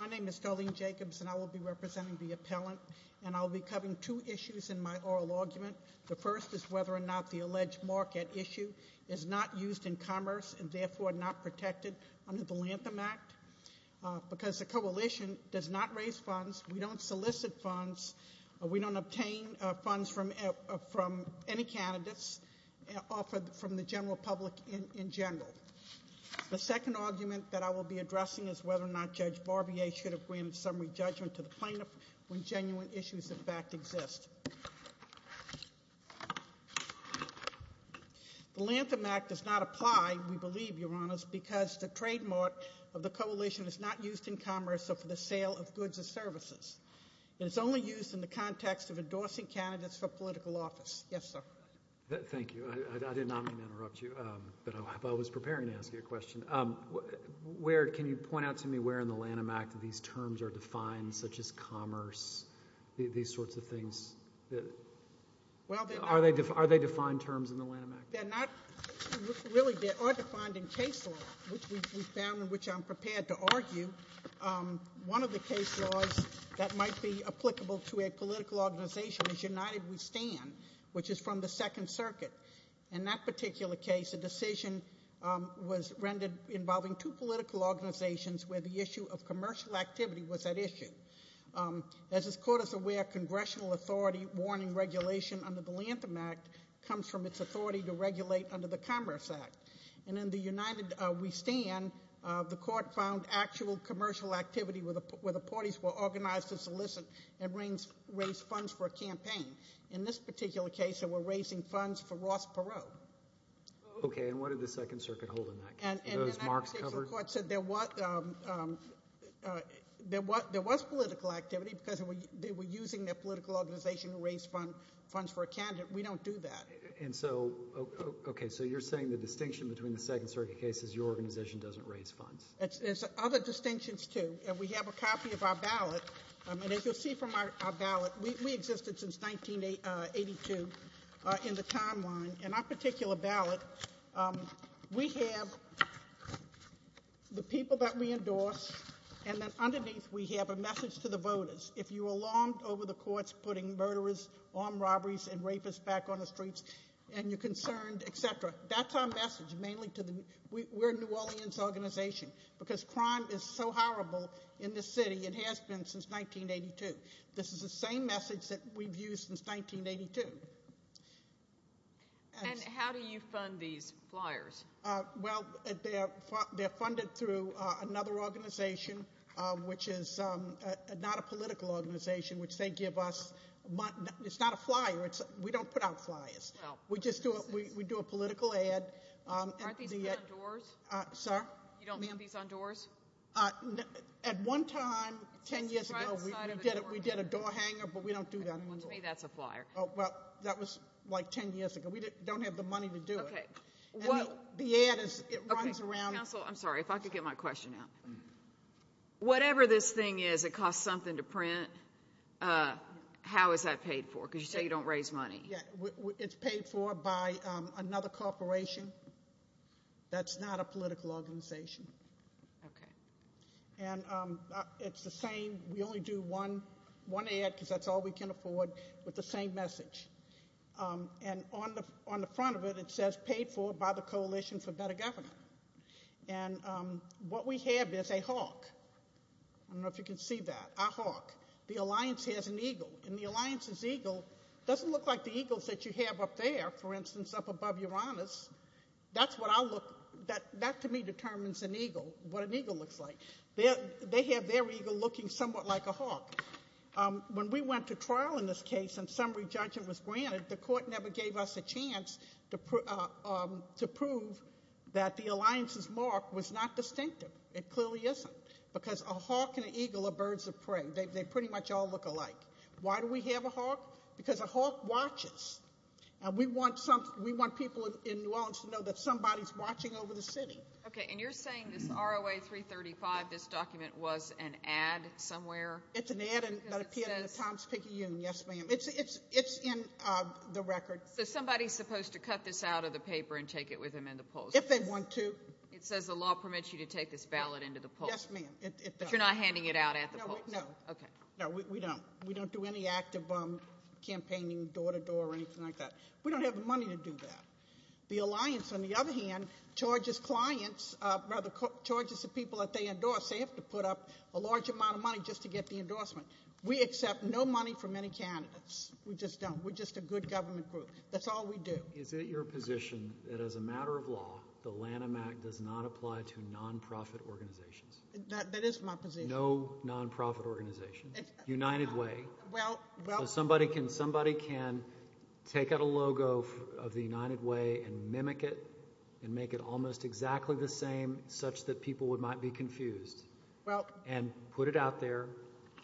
My name is Darlene Jacobs and I will be representing the appellant and I will be covering two issues in my oral argument. The first is whether or not the alleged market issue is not used in commerce and therefore not protected under the Lantham Act because the Coalition does not raise funds, we don't solicit funds, we don't obtain funds from any candidates offered from the general public in general. The second argument that I will be addressing is whether or not Judge Barbier should have granted summary judgment to the plaintiff when genuine issues in fact exist. The Lantham Act does not apply, we believe, Your Honors, because the trademark of the Coalition is not used in commerce or for the sale of goods or services. It is only used in the context of endorsing candidates for political office. Yes, sir. Thank you. I did not mean to interrupt you, but I was preparing to ask you a question. Can you point out to me where in the Lantham Act these terms are defined such as commerce, these sorts of things? Are they defined terms in the Lantham Act? They're not. Really, they are defined in case law, which we found and which I'm prepared to argue. One of the case laws that might be applicable to a political organization is United We Stand, which is from the Second Circuit. In that particular case, a decision was rendered involving two political organizations where the issue of commercial activity was at issue. As this Court is aware, congressional authority warning regulation under the Lantham Act comes from its authority to regulate under the Commerce Act. And in the United We Stand, the Court found actual commercial activity where the parties were organized to solicit and raise funds for a campaign. In this particular case, they were raising funds for Ross Perot. Okay, and what did the Second Circuit hold in that case? Were those marks covered? There was political activity because they were using their political organization to raise funds for a candidate. We don't do that. And so, okay, so you're saying the distinction between the Second Circuit case is your organization doesn't raise funds. There's other distinctions, too. We have a copy of our ballot, and as you'll see from our ballot, we existed since 1982 in the timeline. In our particular ballot, we have the people that we endorse, and then underneath we have a message to the voters. If you're alarmed over the courts putting murderers, armed robberies, and rapists back on the streets, and you're concerned, et cetera, that's our message mainly to the New Orleans organization because crime is so horrible in this city. It has been since 1982. This is the same message that we've used since 1982. And how do you fund these flyers? Well, they're funded through another organization, which is not a political organization, which they give us. It's not a flyer. We don't put out flyers. We just do a political ad. Aren't these put on doors? Sir? You don't mail these on doors? At one time, 10 years ago, we did a door hanger, but we don't do that anymore. To me, that's a flyer. Well, that was like 10 years ago. We don't have the money to do it. The ad runs around. Counsel, I'm sorry. If I could get my question out. Whatever this thing is, it costs something to print. How is that paid for? Because you say you don't raise money. It's paid for by another corporation. That's not a political organization. Okay. And it's the same. We only do one ad because that's all we can afford with the same message. And on the front of it, it says, paid for by the Coalition for Better Government. And what we have is a hawk. I don't know if you can see that, a hawk. The alliance has an eagle, and the alliance's eagle doesn't look like the eagles that you have up there, for instance, up above Uranus. That, to me, determines an eagle, what an eagle looks like. They have their eagle looking somewhat like a hawk. When we went to trial in this case, and summary judgment was granted, the court never gave us a chance to prove that the alliance's mark was not distinctive. It clearly isn't, because a hawk and an eagle are birds of prey. They pretty much all look alike. Why do we have a hawk? Because a hawk watches, and we want people in New Orleans to know that somebody's watching over the city. Okay, and you're saying this ROA 335, this document, was an ad somewhere? It's an ad that appeared in the Times-Picayune, yes, ma'am. It's in the record. So somebody's supposed to cut this out of the paper and take it with them in the polls? If they want to. It says the law permits you to take this ballot into the polls. Yes, ma'am. But you're not handing it out at the polls? No. Okay. No, we don't. We don't do any active campaigning door-to-door or anything like that. We don't have the money to do that. The alliance, on the other hand, charges clients, rather, charges the people that they endorse. They have to put up a large amount of money just to get the endorsement. We accept no money from any candidates. We just don't. We're just a good government group. That's all we do. Is it your position that, as a matter of law, the Lanham Act does not apply to nonprofit organizations? That is my position. There is no nonprofit organization. United Way. Somebody can take out a logo of the United Way and mimic it and make it almost exactly the same, such that people might be confused, and put it out there,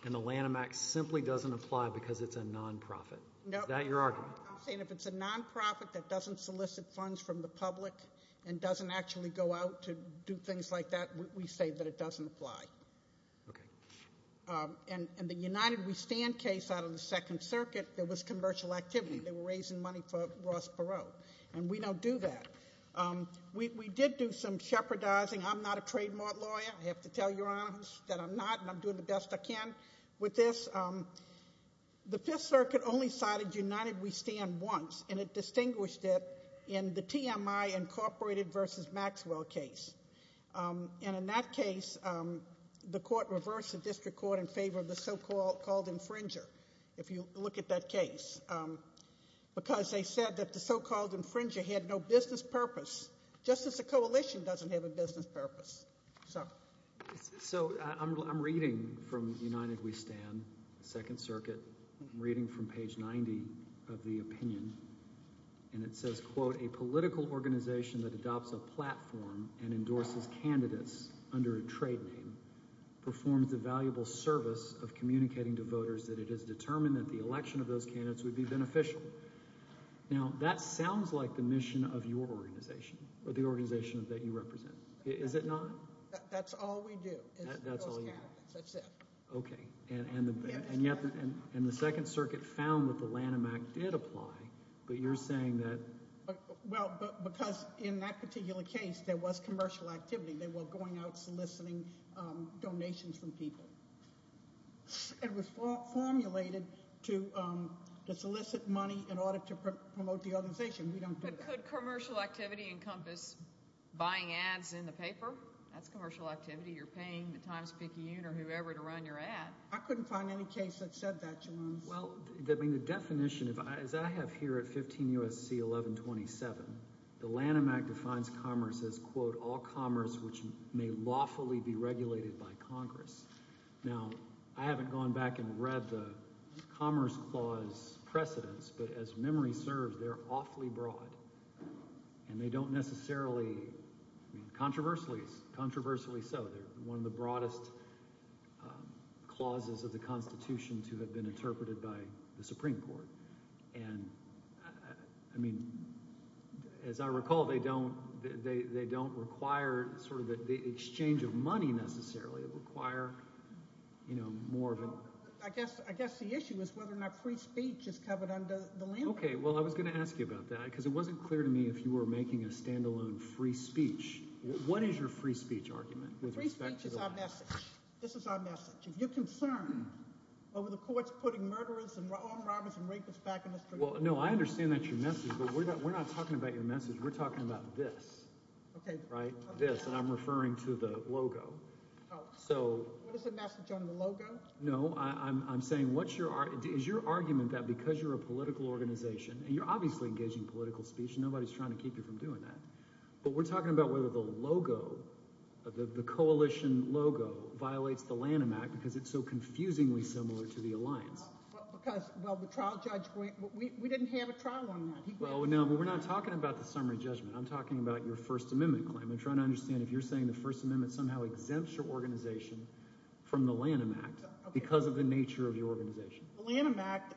and the Lanham Act simply doesn't apply because it's a nonprofit. Is that your argument? I'm saying if it's a nonprofit that doesn't solicit funds from the public and doesn't actually go out to do things like that, we say that it doesn't apply. In the United We Stand case out of the Second Circuit, there was commercial activity. They were raising money for Ross Perot, and we don't do that. We did do some shepherdizing. I'm not a trademark lawyer. I have to tell Your Honor that I'm not, and I'm doing the best I can with this. The Fifth Circuit only cited United We Stand once, and it distinguished it in the TMI Incorporated v. Maxwell case. In that case, the court reversed the district court in favor of the so-called infringer, if you look at that case, because they said that the so-called infringer had no business purpose, just as the coalition doesn't have a business purpose. So I'm reading from United We Stand, the Second Circuit. I'm reading from page 90 of the opinion, and it says, quote, a political organization that adopts a platform and endorses candidates under a trade name performs a valuable service of communicating to voters that it is determined that the election of those candidates would be beneficial. Now, that sounds like the mission of your organization or the organization that you represent. Is it not? That's all we do is those candidates. That's all you do. That's it. Okay, and yet the Second Circuit found that the Lanham Act did apply, but you're saying that— Well, because in that particular case, there was commercial activity. They were going out soliciting donations from people. It was formulated to solicit money in order to promote the organization. We don't do that. How could commercial activity encompass buying ads in the paper? That's commercial activity. You're paying the Times-Picayune or whoever to run your ad. I couldn't find any case that said that, Jones. Well, I mean the definition, as I have here at 15 U.S.C. 1127, the Lanham Act defines commerce as, quote, all commerce which may lawfully be regulated by Congress. Now, I haven't gone back and read the Commerce Clause precedents, but as memory serves, they're awfully broad, and they don't necessarily—I mean controversially so. They're one of the broadest clauses of the Constitution to have been interpreted by the Supreme Court. And, I mean, as I recall, they don't require sort of the exchange of money necessarily. They require more of a— I guess the issue is whether or not free speech is covered under the Lanham Act. Okay, well, I was going to ask you about that because it wasn't clear to me if you were making a stand-alone free speech. What is your free speech argument with respect to the Lanham Act? Free speech is our message. This is our message. If you're concerned over the courts putting murderers and armed robbers and rapists back in the streets— Well, no, I understand that's your message, but we're not talking about your message. We're talking about this. Okay. Right? We're talking about this, and I'm referring to the logo. Oh. So— What is the message on the logo? No, I'm saying what's your—is your argument that because you're a political organization, and you're obviously engaging political speech and nobody's trying to keep you from doing that, but we're talking about whether the logo, the coalition logo, violates the Lanham Act because it's so confusingly similar to the alliance. Because, well, the trial judge—we didn't have a trial on that. Well, no, we're not talking about the summary judgment. I'm talking about your First Amendment claim. I'm trying to understand if you're saying the First Amendment somehow exempts your organization from the Lanham Act because of the nature of your organization. The Lanham Act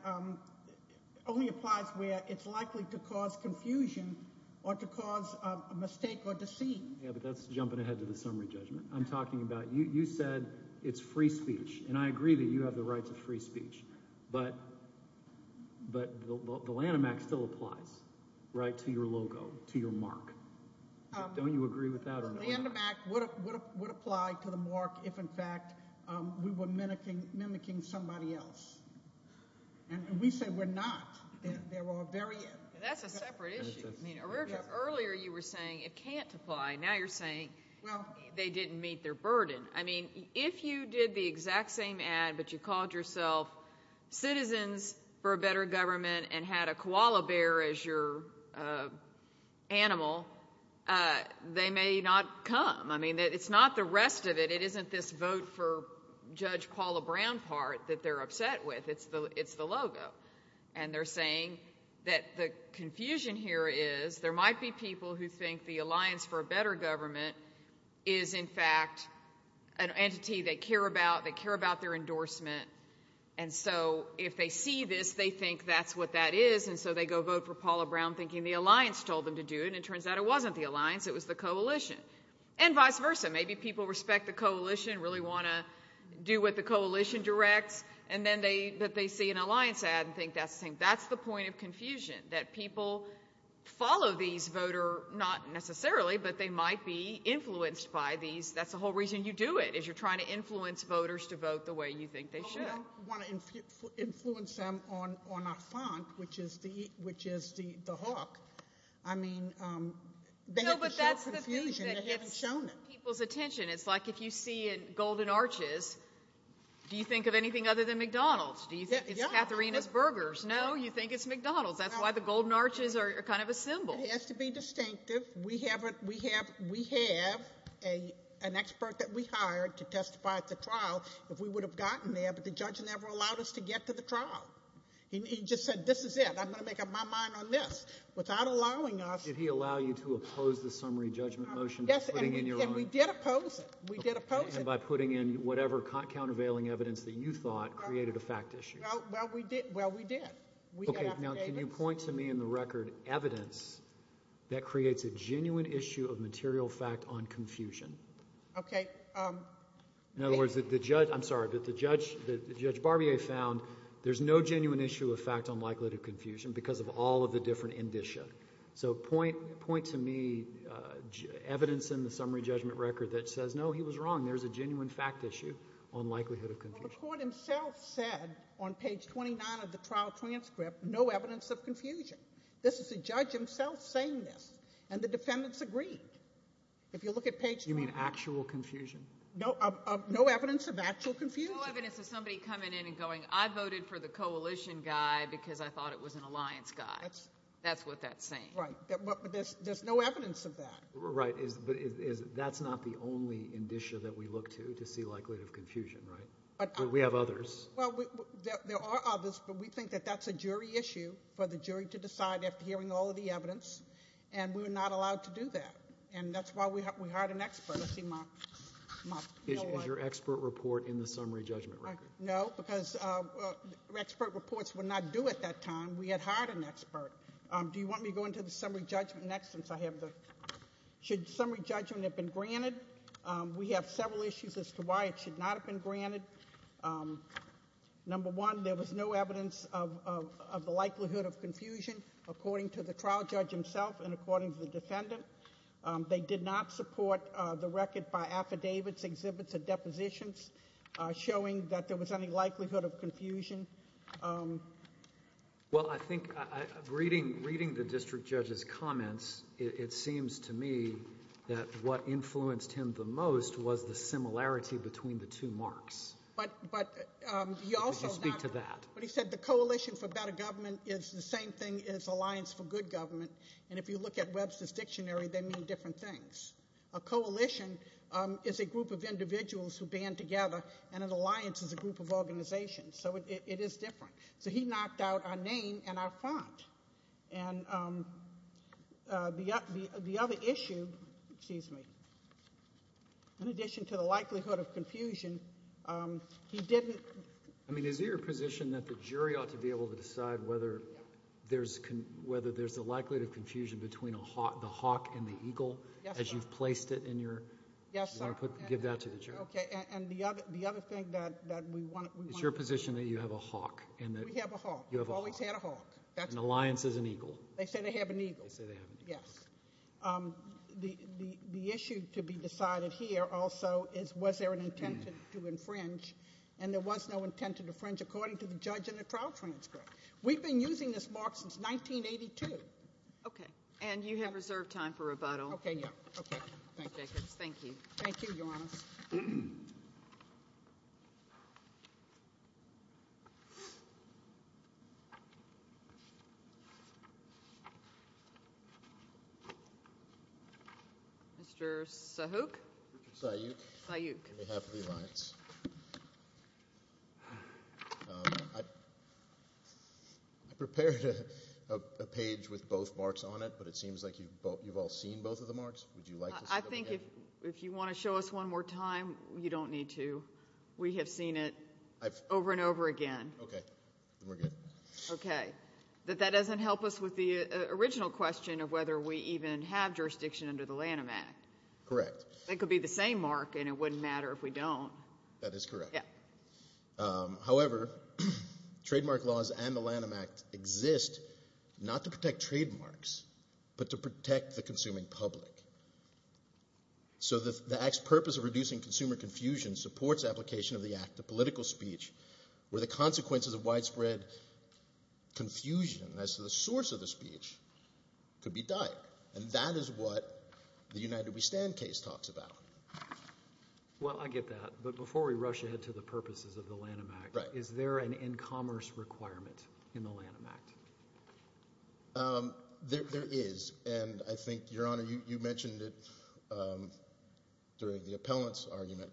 only applies where it's likely to cause confusion or to cause a mistake or deceit. Yeah, but that's jumping ahead to the summary judgment. I'm talking about—you said it's free speech, and I agree that you have the right to free speech, but the Lanham Act still applies, right, to your logo, to your mark. Don't you agree with that or not? The Lanham Act would apply to the mark if, in fact, we were mimicking somebody else. And we say we're not. They're all very— That's a separate issue. Earlier you were saying it can't apply. Now you're saying they didn't meet their burden. I mean, if you did the exact same ad but you called yourself Citizens for a Better Government and had a koala bear as your animal, they may not come. I mean, it's not the rest of it. It isn't this vote for Judge Paula Brown part that they're upset with. It's the logo. And they're saying that the confusion here is there might be people who think the Alliance for a Better Government is, in fact, an entity they care about. They care about their endorsement. And so if they see this, they think that's what that is, and so they go vote for Paula Brown thinking the alliance told them to do it, and it turns out it wasn't the alliance. It was the coalition. And vice versa. Maybe people respect the coalition, really want to do what the coalition directs, and then they see an alliance ad and think that's the point of confusion, that people follow these voters, not necessarily, but they might be influenced by these. That's the whole reason you do it is you're trying to influence voters to vote the way you think they should. I don't want to influence them on our font, which is the hawk. I mean, they have to show confusion. They haven't shown it. No, but that's the thing that gets people's attention. It's like if you see at Golden Arches, do you think of anything other than McDonald's? Do you think it's Katharina's Burgers? No, you think it's McDonald's. That's why the Golden Arches are kind of a symbol. It has to be distinctive. We have an expert that we hired to testify at the trial. If we would have gotten there, but the judge never allowed us to get to the trial. He just said this is it. I'm going to make up my mind on this. Without allowing us. Did he allow you to oppose the summary judgment motion? Yes, and we did oppose it. We did oppose it. And by putting in whatever countervailing evidence that you thought created a fact issue. Well, we did. Okay, now can you point to me in the record evidence that creates a genuine issue of material fact on confusion? Okay. In other words, the judge, I'm sorry, but the judge, Judge Barbier found there's no genuine issue of fact on likelihood of confusion because of all of the different indicia. So point to me evidence in the summary judgment record that says no, he was wrong. There's a genuine fact issue on likelihood of confusion. Well, the court himself said on page 29 of the trial transcript, no evidence of confusion. This is the judge himself saying this, and the defendants agreed. If you look at page 29. You mean actual confusion? No evidence of actual confusion. No evidence of somebody coming in and going, I voted for the coalition guy because I thought it was an alliance guy. That's what that's saying. Right, but there's no evidence of that. Right, but that's not the only indicia that we look to to see likelihood of confusion, right? We have others. Well, there are others, but we think that that's a jury issue for the jury to decide after hearing all of the evidence, and we're not allowed to do that. And that's why we hired an expert. Is your expert report in the summary judgment record? No, because expert reports were not due at that time. We had hired an expert. Do you want me to go into the summary judgment next since I have the, should summary judgment have been granted? We have several issues as to why it should not have been granted. Number one, there was no evidence of the likelihood of confusion according to the trial judge himself and according to the defendant. They did not support the record by affidavits, exhibits, or depositions showing that there was any likelihood of confusion. Well, I think reading the district judge's comments, it seems to me that what influenced him the most was the similarity between the two marks. But he also said the coalition for better government is the same thing as alliance for good government. And if you look at Webster's dictionary, they mean different things. A coalition is a group of individuals who band together, and an alliance is a group of organizations. So it is different. So he knocked out our name and our font. And the other issue, excuse me, in addition to the likelihood of confusion, he didn't. I mean, is it your position that the jury ought to be able to decide whether there's a likelihood of confusion between the hawk and the eagle? Yes, sir. As you've placed it in your. Yes, sir. You want to give that to the jury? Okay, and the other thing that we want to. It's your position that you have a hawk. We have a hawk. You have a hawk. We've always had a hawk. An alliance is an eagle. They say they have an eagle. They say they have an eagle. Yes. The issue to be decided here also is was there an intent to infringe, and there was no intent to infringe according to the judge in the trial transcript. We've been using this mark since 1982. Okay. And you have reserved time for rebuttal. Okay, yeah. Okay. Thank you. Thank you, Your Honor. Thank you, Your Honor. Mr. Sahuk. Richard Sahuk. On behalf of the alliance, I prepared a page with both marks on it, but it seems like you've all seen both of the marks. I think if you want to show us one more time, you don't need to. We have seen it over and over again. Okay. Then we're good. Okay. But that doesn't help us with the original question of whether we even have jurisdiction under the Lanham Act. Correct. It could be the same mark, and it wouldn't matter if we don't. That is correct. Yeah. However, trademark laws and the Lanham Act exist not to protect trademarks but to protect the consuming public. So the act's purpose of reducing consumer confusion supports application of the act of political speech where the consequences of widespread confusion as to the source of the speech could be dire, and that is what the United We Stand case talks about. Well, I get that, but before we rush ahead to the purposes of the Lanham Act, is there an in-commerce requirement in the Lanham Act? There is, and I think, Your Honor, you mentioned it during the appellant's argument.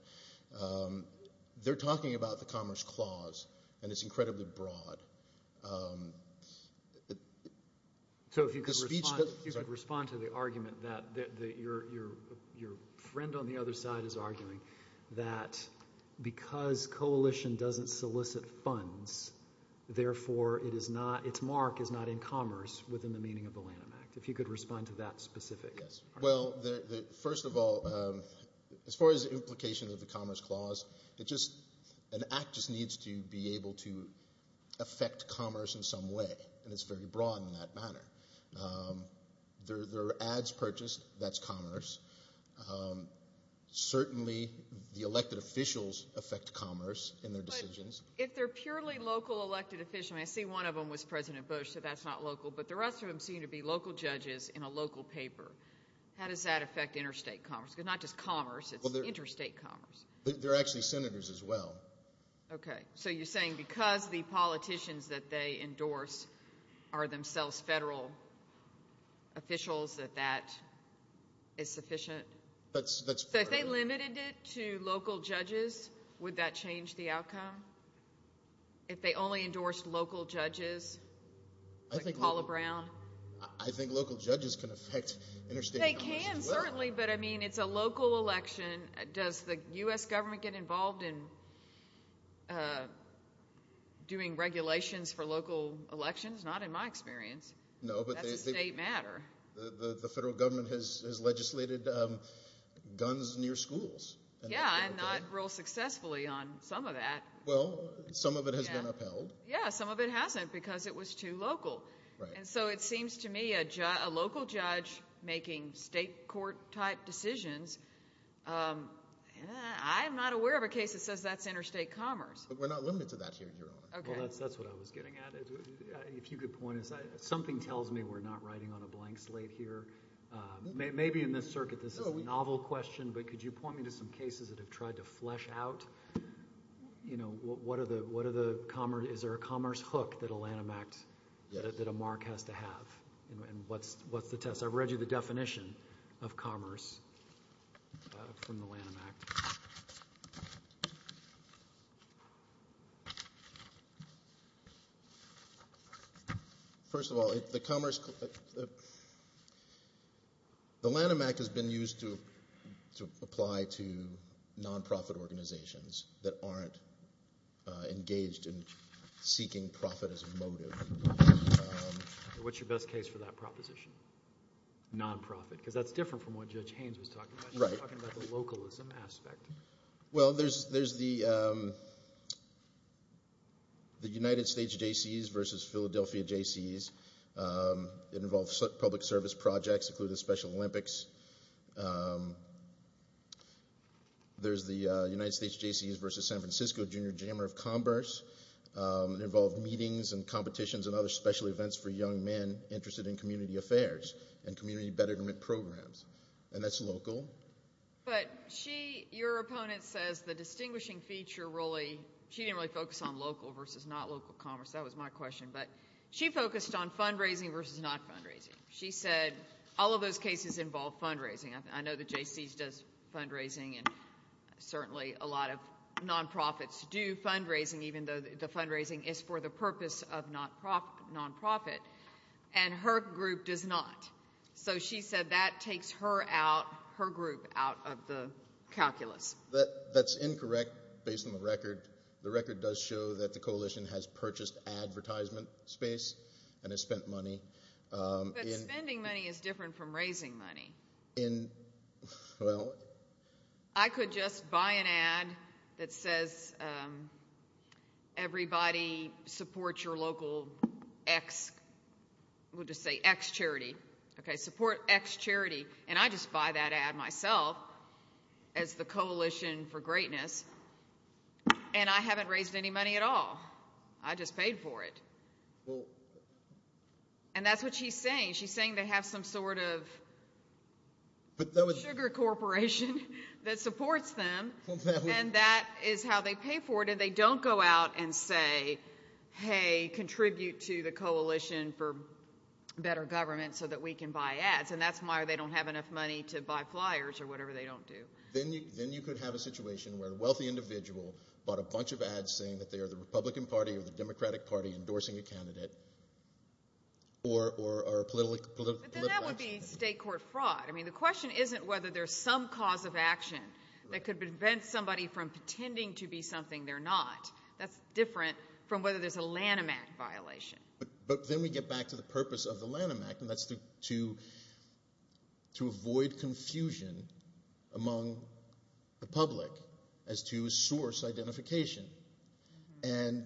They're talking about the Commerce Clause, and it's incredibly broad. So if you could respond to the argument that your friend on the other side is arguing, that because coalition doesn't solicit funds, therefore its mark is not in commerce within the meaning of the Lanham Act. If you could respond to that specific argument. Well, first of all, as far as the implication of the Commerce Clause, an act just needs to be able to affect commerce in some way, and it's very broad in that manner. There are ads purchased, that's commerce. Certainly the elected officials affect commerce in their decisions. But if they're purely local elected officials, and I see one of them was President Bush, so that's not local, but the rest of them seem to be local judges in a local paper, how does that affect interstate commerce? Because not just commerce, it's interstate commerce. They're actually senators as well. Okay. So you're saying because the politicians that they endorse are themselves federal officials, that that is sufficient? That's part of it. So if they limited it to local judges, would that change the outcome? If they only endorsed local judges, like Paula Brown? I think local judges can affect interstate commerce as well. They can, certainly, but, I mean, it's a local election. Does the U.S. government get involved in doing regulations for local elections? Not in my experience. That's a state matter. The federal government has legislated guns near schools. Yeah, and not real successfully on some of that. Well, some of it has been upheld. Yeah, some of it hasn't because it was too local. And so it seems to me a local judge making state court type decisions, I'm not aware of a case that says that's interstate commerce. But we're not limited to that here, Your Honor. Well, that's what I was getting at. If you could point us, something tells me we're not riding on a blank slate here. Maybe in this circuit, this is a novel question, but could you point me to some cases that have tried to flesh out, you know, is there a commerce hook that a landmark, that a mark has to have? And what's the test? I've read you the definition of commerce from the Lanham Act. First of all, the Lanham Act has been used to apply to nonprofit organizations that aren't engaged in seeking profit as a motive. What's your best case for that proposition? Nonprofit, because that's different from what Judge Haynes was talking about. He was talking about the localism aspect. Well, there's the United States JCs versus Philadelphia JCs. It involves public service projects, including the Special Olympics. There's the United States JCs versus San Francisco Junior Jammer of Commerce. It involved meetings and competitions and other special events for young men interested in community affairs and community betterment programs. And that's local. But she, your opponent says the distinguishing feature really, she didn't really focus on local versus not local commerce. That was my question. But she focused on fundraising versus not fundraising. She said all of those cases involve fundraising. I know the JCs does fundraising, and certainly a lot of nonprofits do fundraising, even though the fundraising is for the purpose of nonprofit, and her group does not. So she said that takes her out, her group out of the calculus. That's incorrect based on the record. The record does show that the coalition has purchased advertisement space and has spent money. But spending money is different from raising money. Well, I could just buy an ad that says everybody support your local X, we'll just say X charity. Okay, support X charity. And I just buy that ad myself as the Coalition for Greatness, and I haven't raised any money at all. I just paid for it. And that's what she's saying. She's saying they have some sort of sugar corporation that supports them, and that is how they pay for it, and they don't go out and say, hey, contribute to the coalition for better government so that we can buy ads. And that's why they don't have enough money to buy flyers or whatever they don't do. Then you could have a situation where a wealthy individual bought a bunch of ads saying that they are the Republican Party or the Democratic Party endorsing a candidate or a political action. But then that would be state court fraud. I mean the question isn't whether there's some cause of action that could prevent somebody from pretending to be something they're not. That's different from whether there's a Lanham Act violation. But then we get back to the purpose of the Lanham Act, and that's to avoid confusion among the public as to source identification. And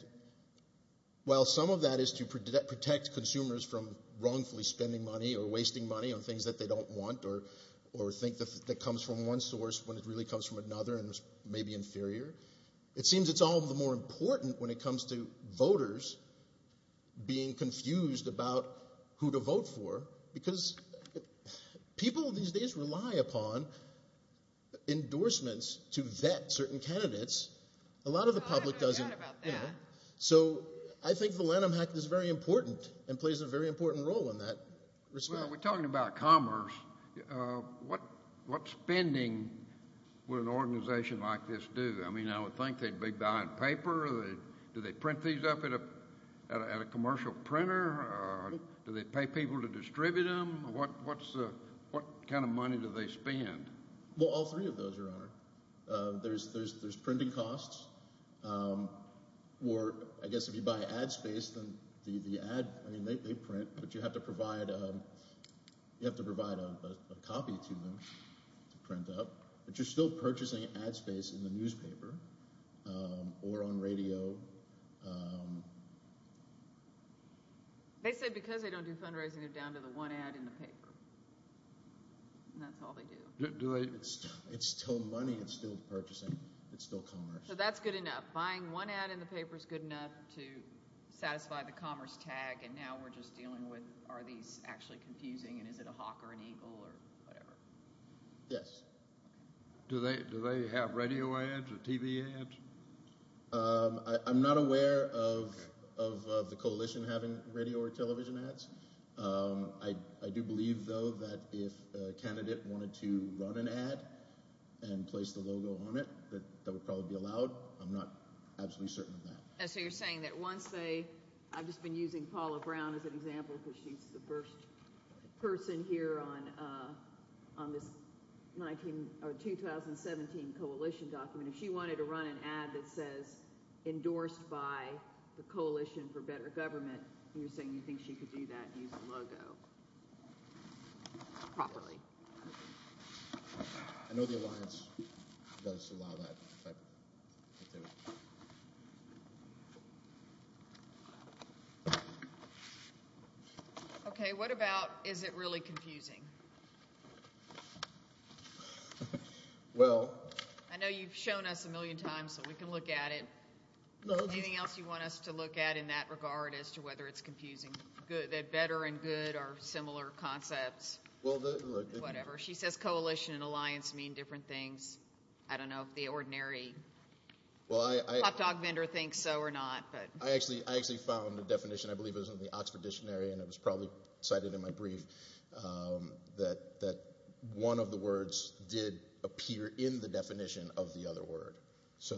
while some of that is to protect consumers from wrongfully spending money or wasting money on things that they don't want or think that comes from one source when it really comes from another and is maybe inferior, it seems it's all the more important when it comes to voters being confused about who to vote for because people these days rely upon endorsements to vet certain candidates. A lot of the public doesn't. So I think the Lanham Act is very important and plays a very important role in that respect. We're talking about commerce. What spending would an organization like this do? I mean I would think they'd be buying paper. Do they print these up at a commercial printer? Do they pay people to distribute them? Well, all three of those, Your Honor. There's printing costs, or I guess if you buy ad space, then the ad, I mean they print, but you have to provide a copy to them to print up. But you're still purchasing ad space in the newspaper or on radio. They say because they don't do fundraising, they're down to the one ad in the paper, and that's all they do. It's still money. It's still purchasing. It's still commerce. So that's good enough. Buying one ad in the paper is good enough to satisfy the commerce tag, and now we're just dealing with are these actually confusing and is it a hawk or an eagle or whatever. Yes. Do they have radio ads or TV ads? I'm not aware of the coalition having radio or television ads. I do believe, though, that if a candidate wanted to run an ad and place the logo on it, that that would probably be allowed. I'm not absolutely certain of that. So you're saying that once they – I've just been using Paula Brown as an example because she's the first person here on this 2017 coalition document. If she wanted to run an ad that says endorsed by the Coalition for Better Government, you're saying you think she could do that and use the logo properly. I know the alliance does allow that. Okay. What about is it really confusing? I know you've shown us a million times so we can look at it. Anything else you want us to look at in that regard as to whether it's confusing, that better and good are similar concepts, whatever? She says coalition and alliance mean different things. I don't know if the ordinary pop dog vendor thinks so or not. I actually found a definition, I believe it was in the Oxford Dictionary, and it was probably cited in my brief, that one of the words did appear in the definition of the other word. So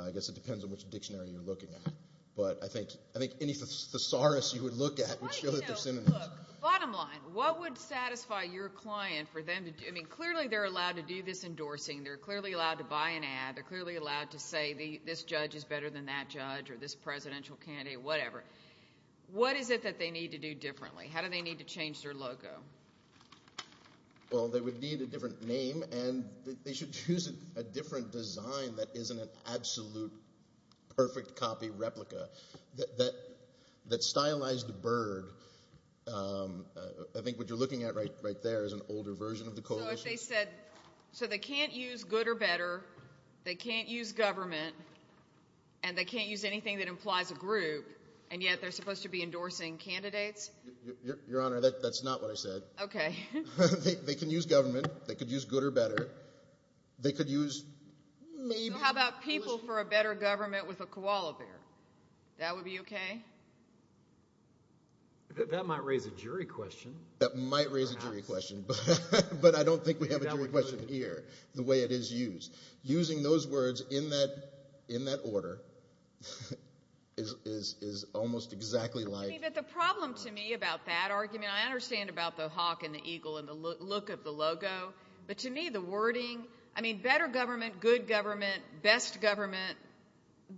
I guess it depends on which dictionary you're looking at. But I think any thesaurus you would look at would show that they're similar. Bottom line, what would satisfy your client for them to do? I mean, clearly they're allowed to do this endorsing. They're clearly allowed to buy an ad. They're clearly allowed to say this judge is better than that judge or this presidential candidate, whatever. What is it that they need to do differently? How do they need to change their logo? Well, they would need a different name, and they should choose a different design that isn't an absolute perfect copy replica. That stylized bird, I think what you're looking at right there is an older version of the coalition. So they can't use good or better, they can't use government, and they can't use anything that implies a group, and yet they're supposed to be endorsing candidates? Your Honor, that's not what I said. Okay. They can use government. They could use good or better. They could use maybe. So how about people for a better government with a koala bear? That would be okay? That might raise a jury question. That might raise a jury question, but I don't think we have a jury question here the way it is used. Using those words in that order is almost exactly like. But the problem to me about that argument, I understand about the hawk and the eagle and the look of the logo, but to me the wording, I mean, better government, good government, best government,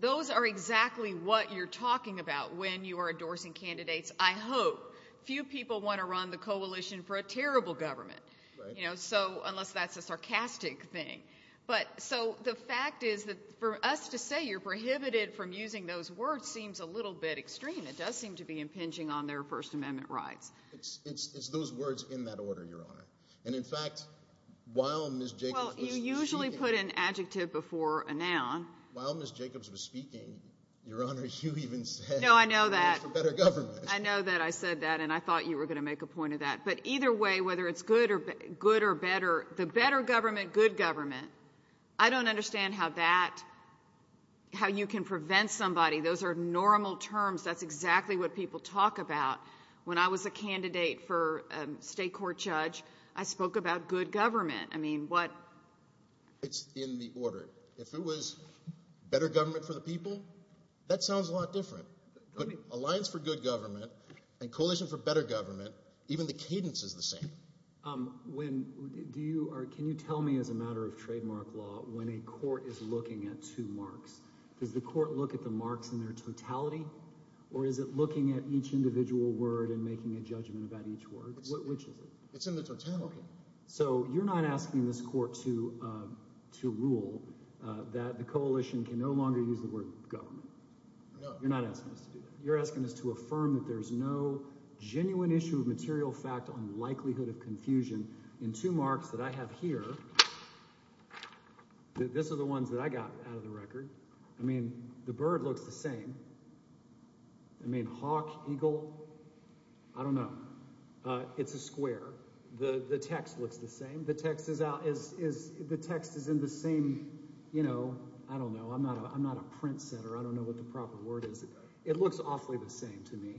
those are exactly what you're talking about when you are endorsing candidates, I hope. Few people want to run the coalition for a terrible government, unless that's a sarcastic thing. So the fact is that for us to say you're prohibited from using those words seems a little bit extreme. It does seem to be impinging on their First Amendment rights. It's those words in that order, Your Honor. And, in fact, while Ms. Jacobs was speaking. Well, you usually put an adjective before a noun. While Ms. Jacobs was speaking, Your Honor, you even said. No, I know that. Better government. I know that I said that, and I thought you were going to make a point of that. But either way, whether it's good or better, the better government, good government, I don't understand how that, how you can prevent somebody. Those are normal terms. That's exactly what people talk about. When I was a candidate for state court judge, I spoke about good government. I mean, what. It's in the order. If it was better government for the people, that sounds a lot different. But alliance for good government and coalition for better government, even the cadence is the same. When, do you, or can you tell me as a matter of trademark law, when a court is looking at two marks, does the court look at the marks in their totality? Or is it looking at each individual word and making a judgment about each word? Which is it? It's in the totality. So you're not asking this court to rule that the coalition can no longer use the word government. You're not asking us to do that. You're asking us to affirm that there's no genuine issue of material fact on likelihood of confusion in two marks that I have here. This is the ones that I got out of the record. I mean, the bird looks the same. I mean, hawk, eagle, I don't know. It's a square. The text looks the same. The text is in the same, you know, I don't know. I'm not a print setter. I don't know what the proper word is. It looks awfully the same to me.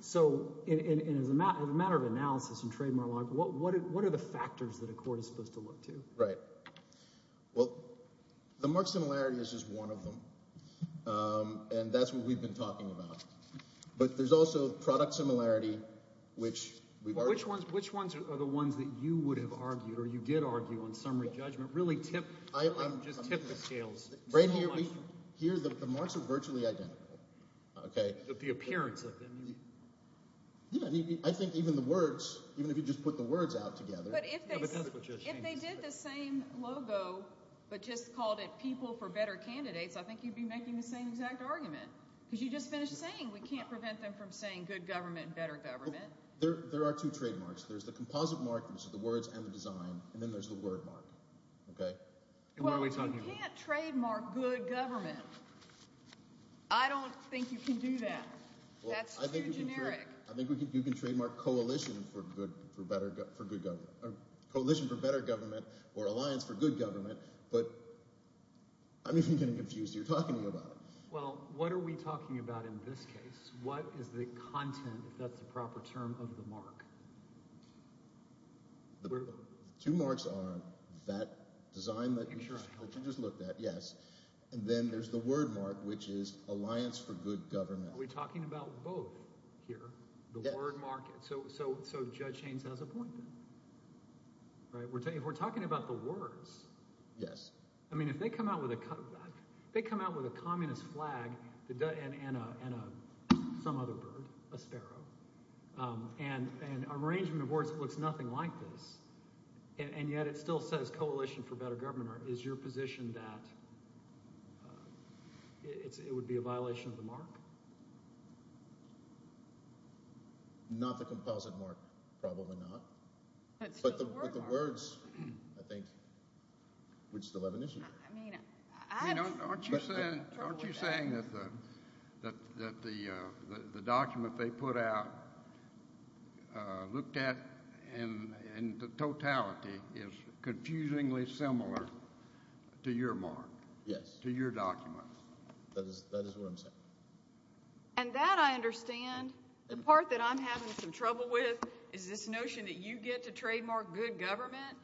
So as a matter of analysis and trademark, what are the factors that a court is supposed to look to? Right. Well, the mark similarity is just one of them, and that's what we've been talking about. But there's also product similarity, which we've argued. Which ones are the ones that you would have argued or you did argue on summary judgment, really tip the scales? Right here, we hear that the marks are virtually identical. Okay. But the appearance of them. Yeah. I think even the words, even if you just put the words out together. But if they did the same logo but just called it People for Better Candidates, I think you'd be making the same exact argument because you just finished saying we can't prevent them from saying good government, better government. There are two trademarks. There's the composite mark, which is the words and the design, and then there's the word mark. Okay. And what are we talking about? We can't trademark good government. I don't think you can do that. That's too generic. I think you can trademark coalition for better government or alliance for good government, but I'm even getting confused here talking about it. Well, what are we talking about in this case? What is the content, if that's the proper term, of the mark? The two marks are that design that you just looked at. Yes. And then there's the word mark, which is alliance for good government. Are we talking about both here? Yes. The word mark. So Judge Haynes has a point there. Right? If we're talking about the words. I mean if they come out with a communist flag and some other bird, a sparrow, and an arrangement of words that looks nothing like this, and yet it still says coalition for better government, is your position that it would be a violation of the mark? Not the composite mark. Probably not. But the words, I think, would still have an issue. Aren't you saying that the document they put out, looked at in totality, is confusingly similar to your mark? Yes. To your document? That is what I'm saying. And that I understand. The part that I'm having some trouble with is this notion that you get to trademark good government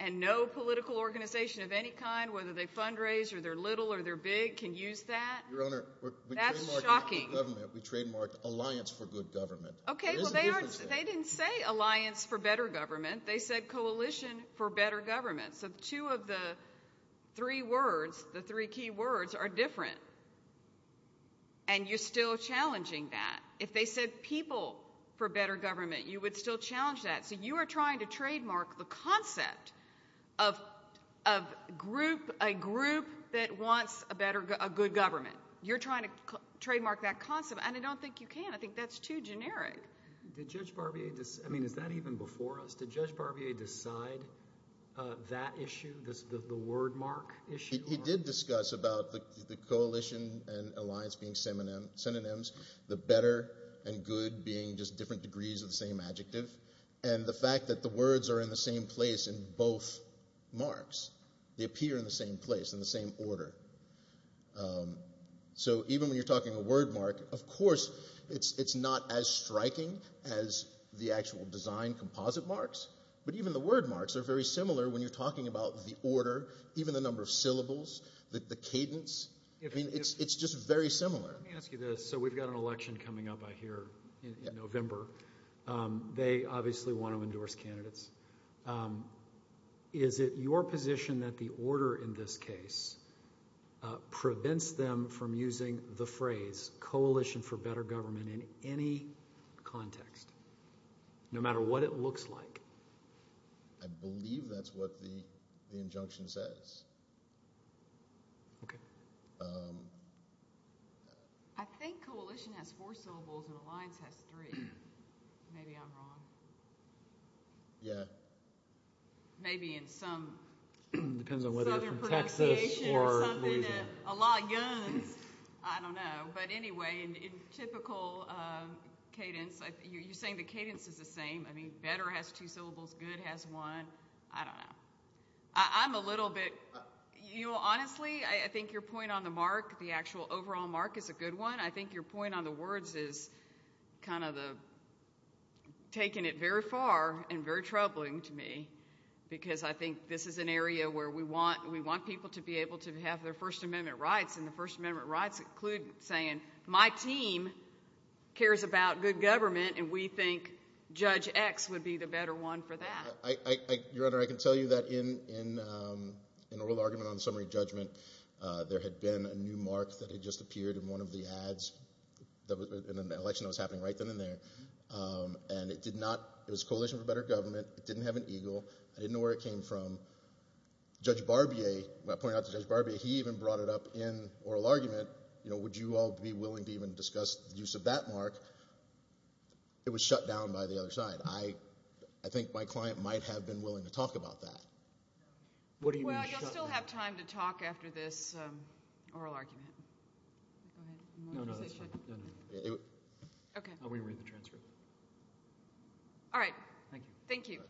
and no political organization of any kind, whether they fundraise or they're little or they're big, can use that. Your Honor, we trademarked alliance for good government. Okay, well they didn't say alliance for better government. They said coalition for better government. So two of the three words, the three key words, are different. And you're still challenging that. If they said people for better government, you would still challenge that. So you are trying to trademark the concept of a group that wants a good government. You're trying to trademark that concept, and I don't think you can. I think that's too generic. Did Judge Barbier decide? I mean, is that even before us? Did Judge Barbier decide that issue, the word mark issue? He did discuss about the coalition and alliance being synonyms, the better and good being just different degrees of the same adjective. And the fact that the words are in the same place in both marks. They appear in the same place, in the same order. So even when you're talking a word mark, of course it's not as striking as the actual design composite marks, but even the word marks are very similar when you're talking about the order, even the number of syllables, the cadence. I mean, it's just very similar. Let me ask you this. So we've got an election coming up, I hear, in November. They obviously want to endorse candidates. Is it your position that the order in this case prevents them from using the phrase coalition for better government in any context, no matter what it looks like? I believe that's what the injunction says. Okay. I think coalition has four syllables and alliance has three. Maybe I'm wrong. Yeah. Maybe in some southern pronunciation or something. A lot of guns. I don't know. But anyway, in typical cadence, you're saying the cadence is the same. I mean, better has two syllables, good has one. I don't know. I'm a little bit. Honestly, I think your point on the mark, the actual overall mark, is a good one. I think your point on the words is kind of taking it very far and very troubling to me because I think this is an area where we want people to be able to have their First Amendment rights, and the First Amendment rights include saying my team cares about good government and we think Judge X would be the better one for that. Your Honor, I can tell you that in oral argument on summary judgment, there had been a new mark that had just appeared in one of the ads, in an election that was happening right then and there, and it did not. It was coalition for better government. It didn't have an eagle. I didn't know where it came from. Judge Barbier, when I pointed out to Judge Barbier, he even brought it up in oral argument. Would you all be willing to even discuss the use of that mark? It was shut down by the other side. I think my client might have been willing to talk about that. What do you mean shut down? Well, you'll still have time to talk after this oral argument. Go ahead. No, no, that's fine. Okay. I'll re-read the transcript. All right. Thank you. Thank you.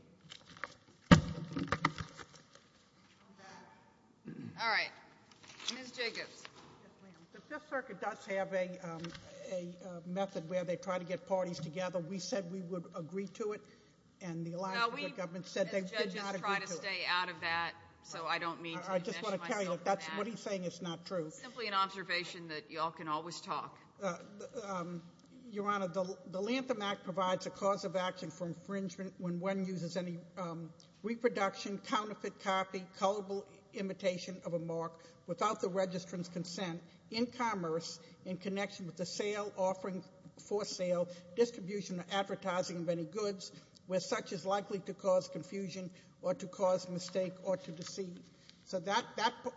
All right. Ms. Jacobs. Yes, ma'am. The Fifth Circuit does have a method where they try to get parties together. We said we would agree to it, and the Alliance for Good Government said they did not agree to it. No, we, as judges, try to stay out of that, so I don't mean to invest myself in that. I just want to tell you, what he's saying is not true. It's simply an observation that you all can always talk. Your Honor, the Lantham Act provides a cause of action for infringement when one uses any reproduction, counterfeit copy, colorable imitation of a mark without the registrant's consent, in commerce, in connection with the sale, offering for sale, distribution or advertising of any goods, where such is likely to cause confusion or to cause mistake or to deceive. So that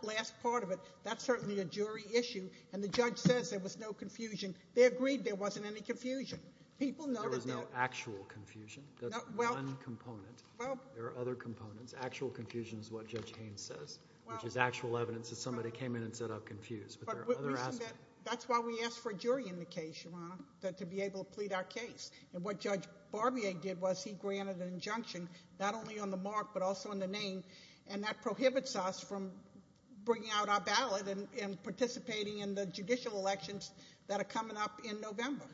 last part of it, that's certainly a jury issue, and the judge says there was no confusion. They agreed there wasn't any confusion. People noted that. There was no actual confusion. That's one component. There are other components. Actual confusion is what Judge Haynes says, which is actual evidence that somebody came in and said I'm confused. That's why we ask for a jury in the case, Your Honor, to be able to plead our case. And what Judge Barbier did was he granted an injunction, not only on the mark but also on the name, and that prohibits us from bringing out our ballot and participating in the judicial elections that are coming up in November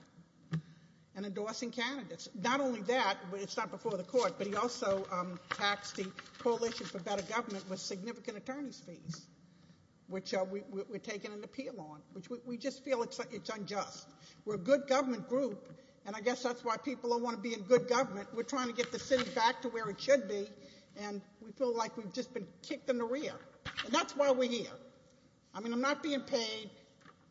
and endorsing candidates. Not only that, it's not before the court, but he also taxed the Coalition for Better Government with significant attorney's fees, which we're taking an appeal on, which we just feel it's unjust. We're a good government group, and I guess that's why people don't want to be in good government. We're trying to get the city back to where it should be, and we feel like we've just been kicked in the rear, and that's why we're here. I mean, I'm not being paid.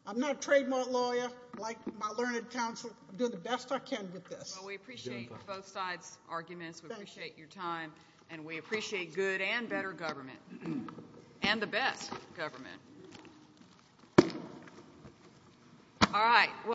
I'm not a trademark lawyer like my learned counsel. I'm doing the best I can with this. Well, we appreciate both sides' arguments. We appreciate your time, and we appreciate good and better government. And the best government.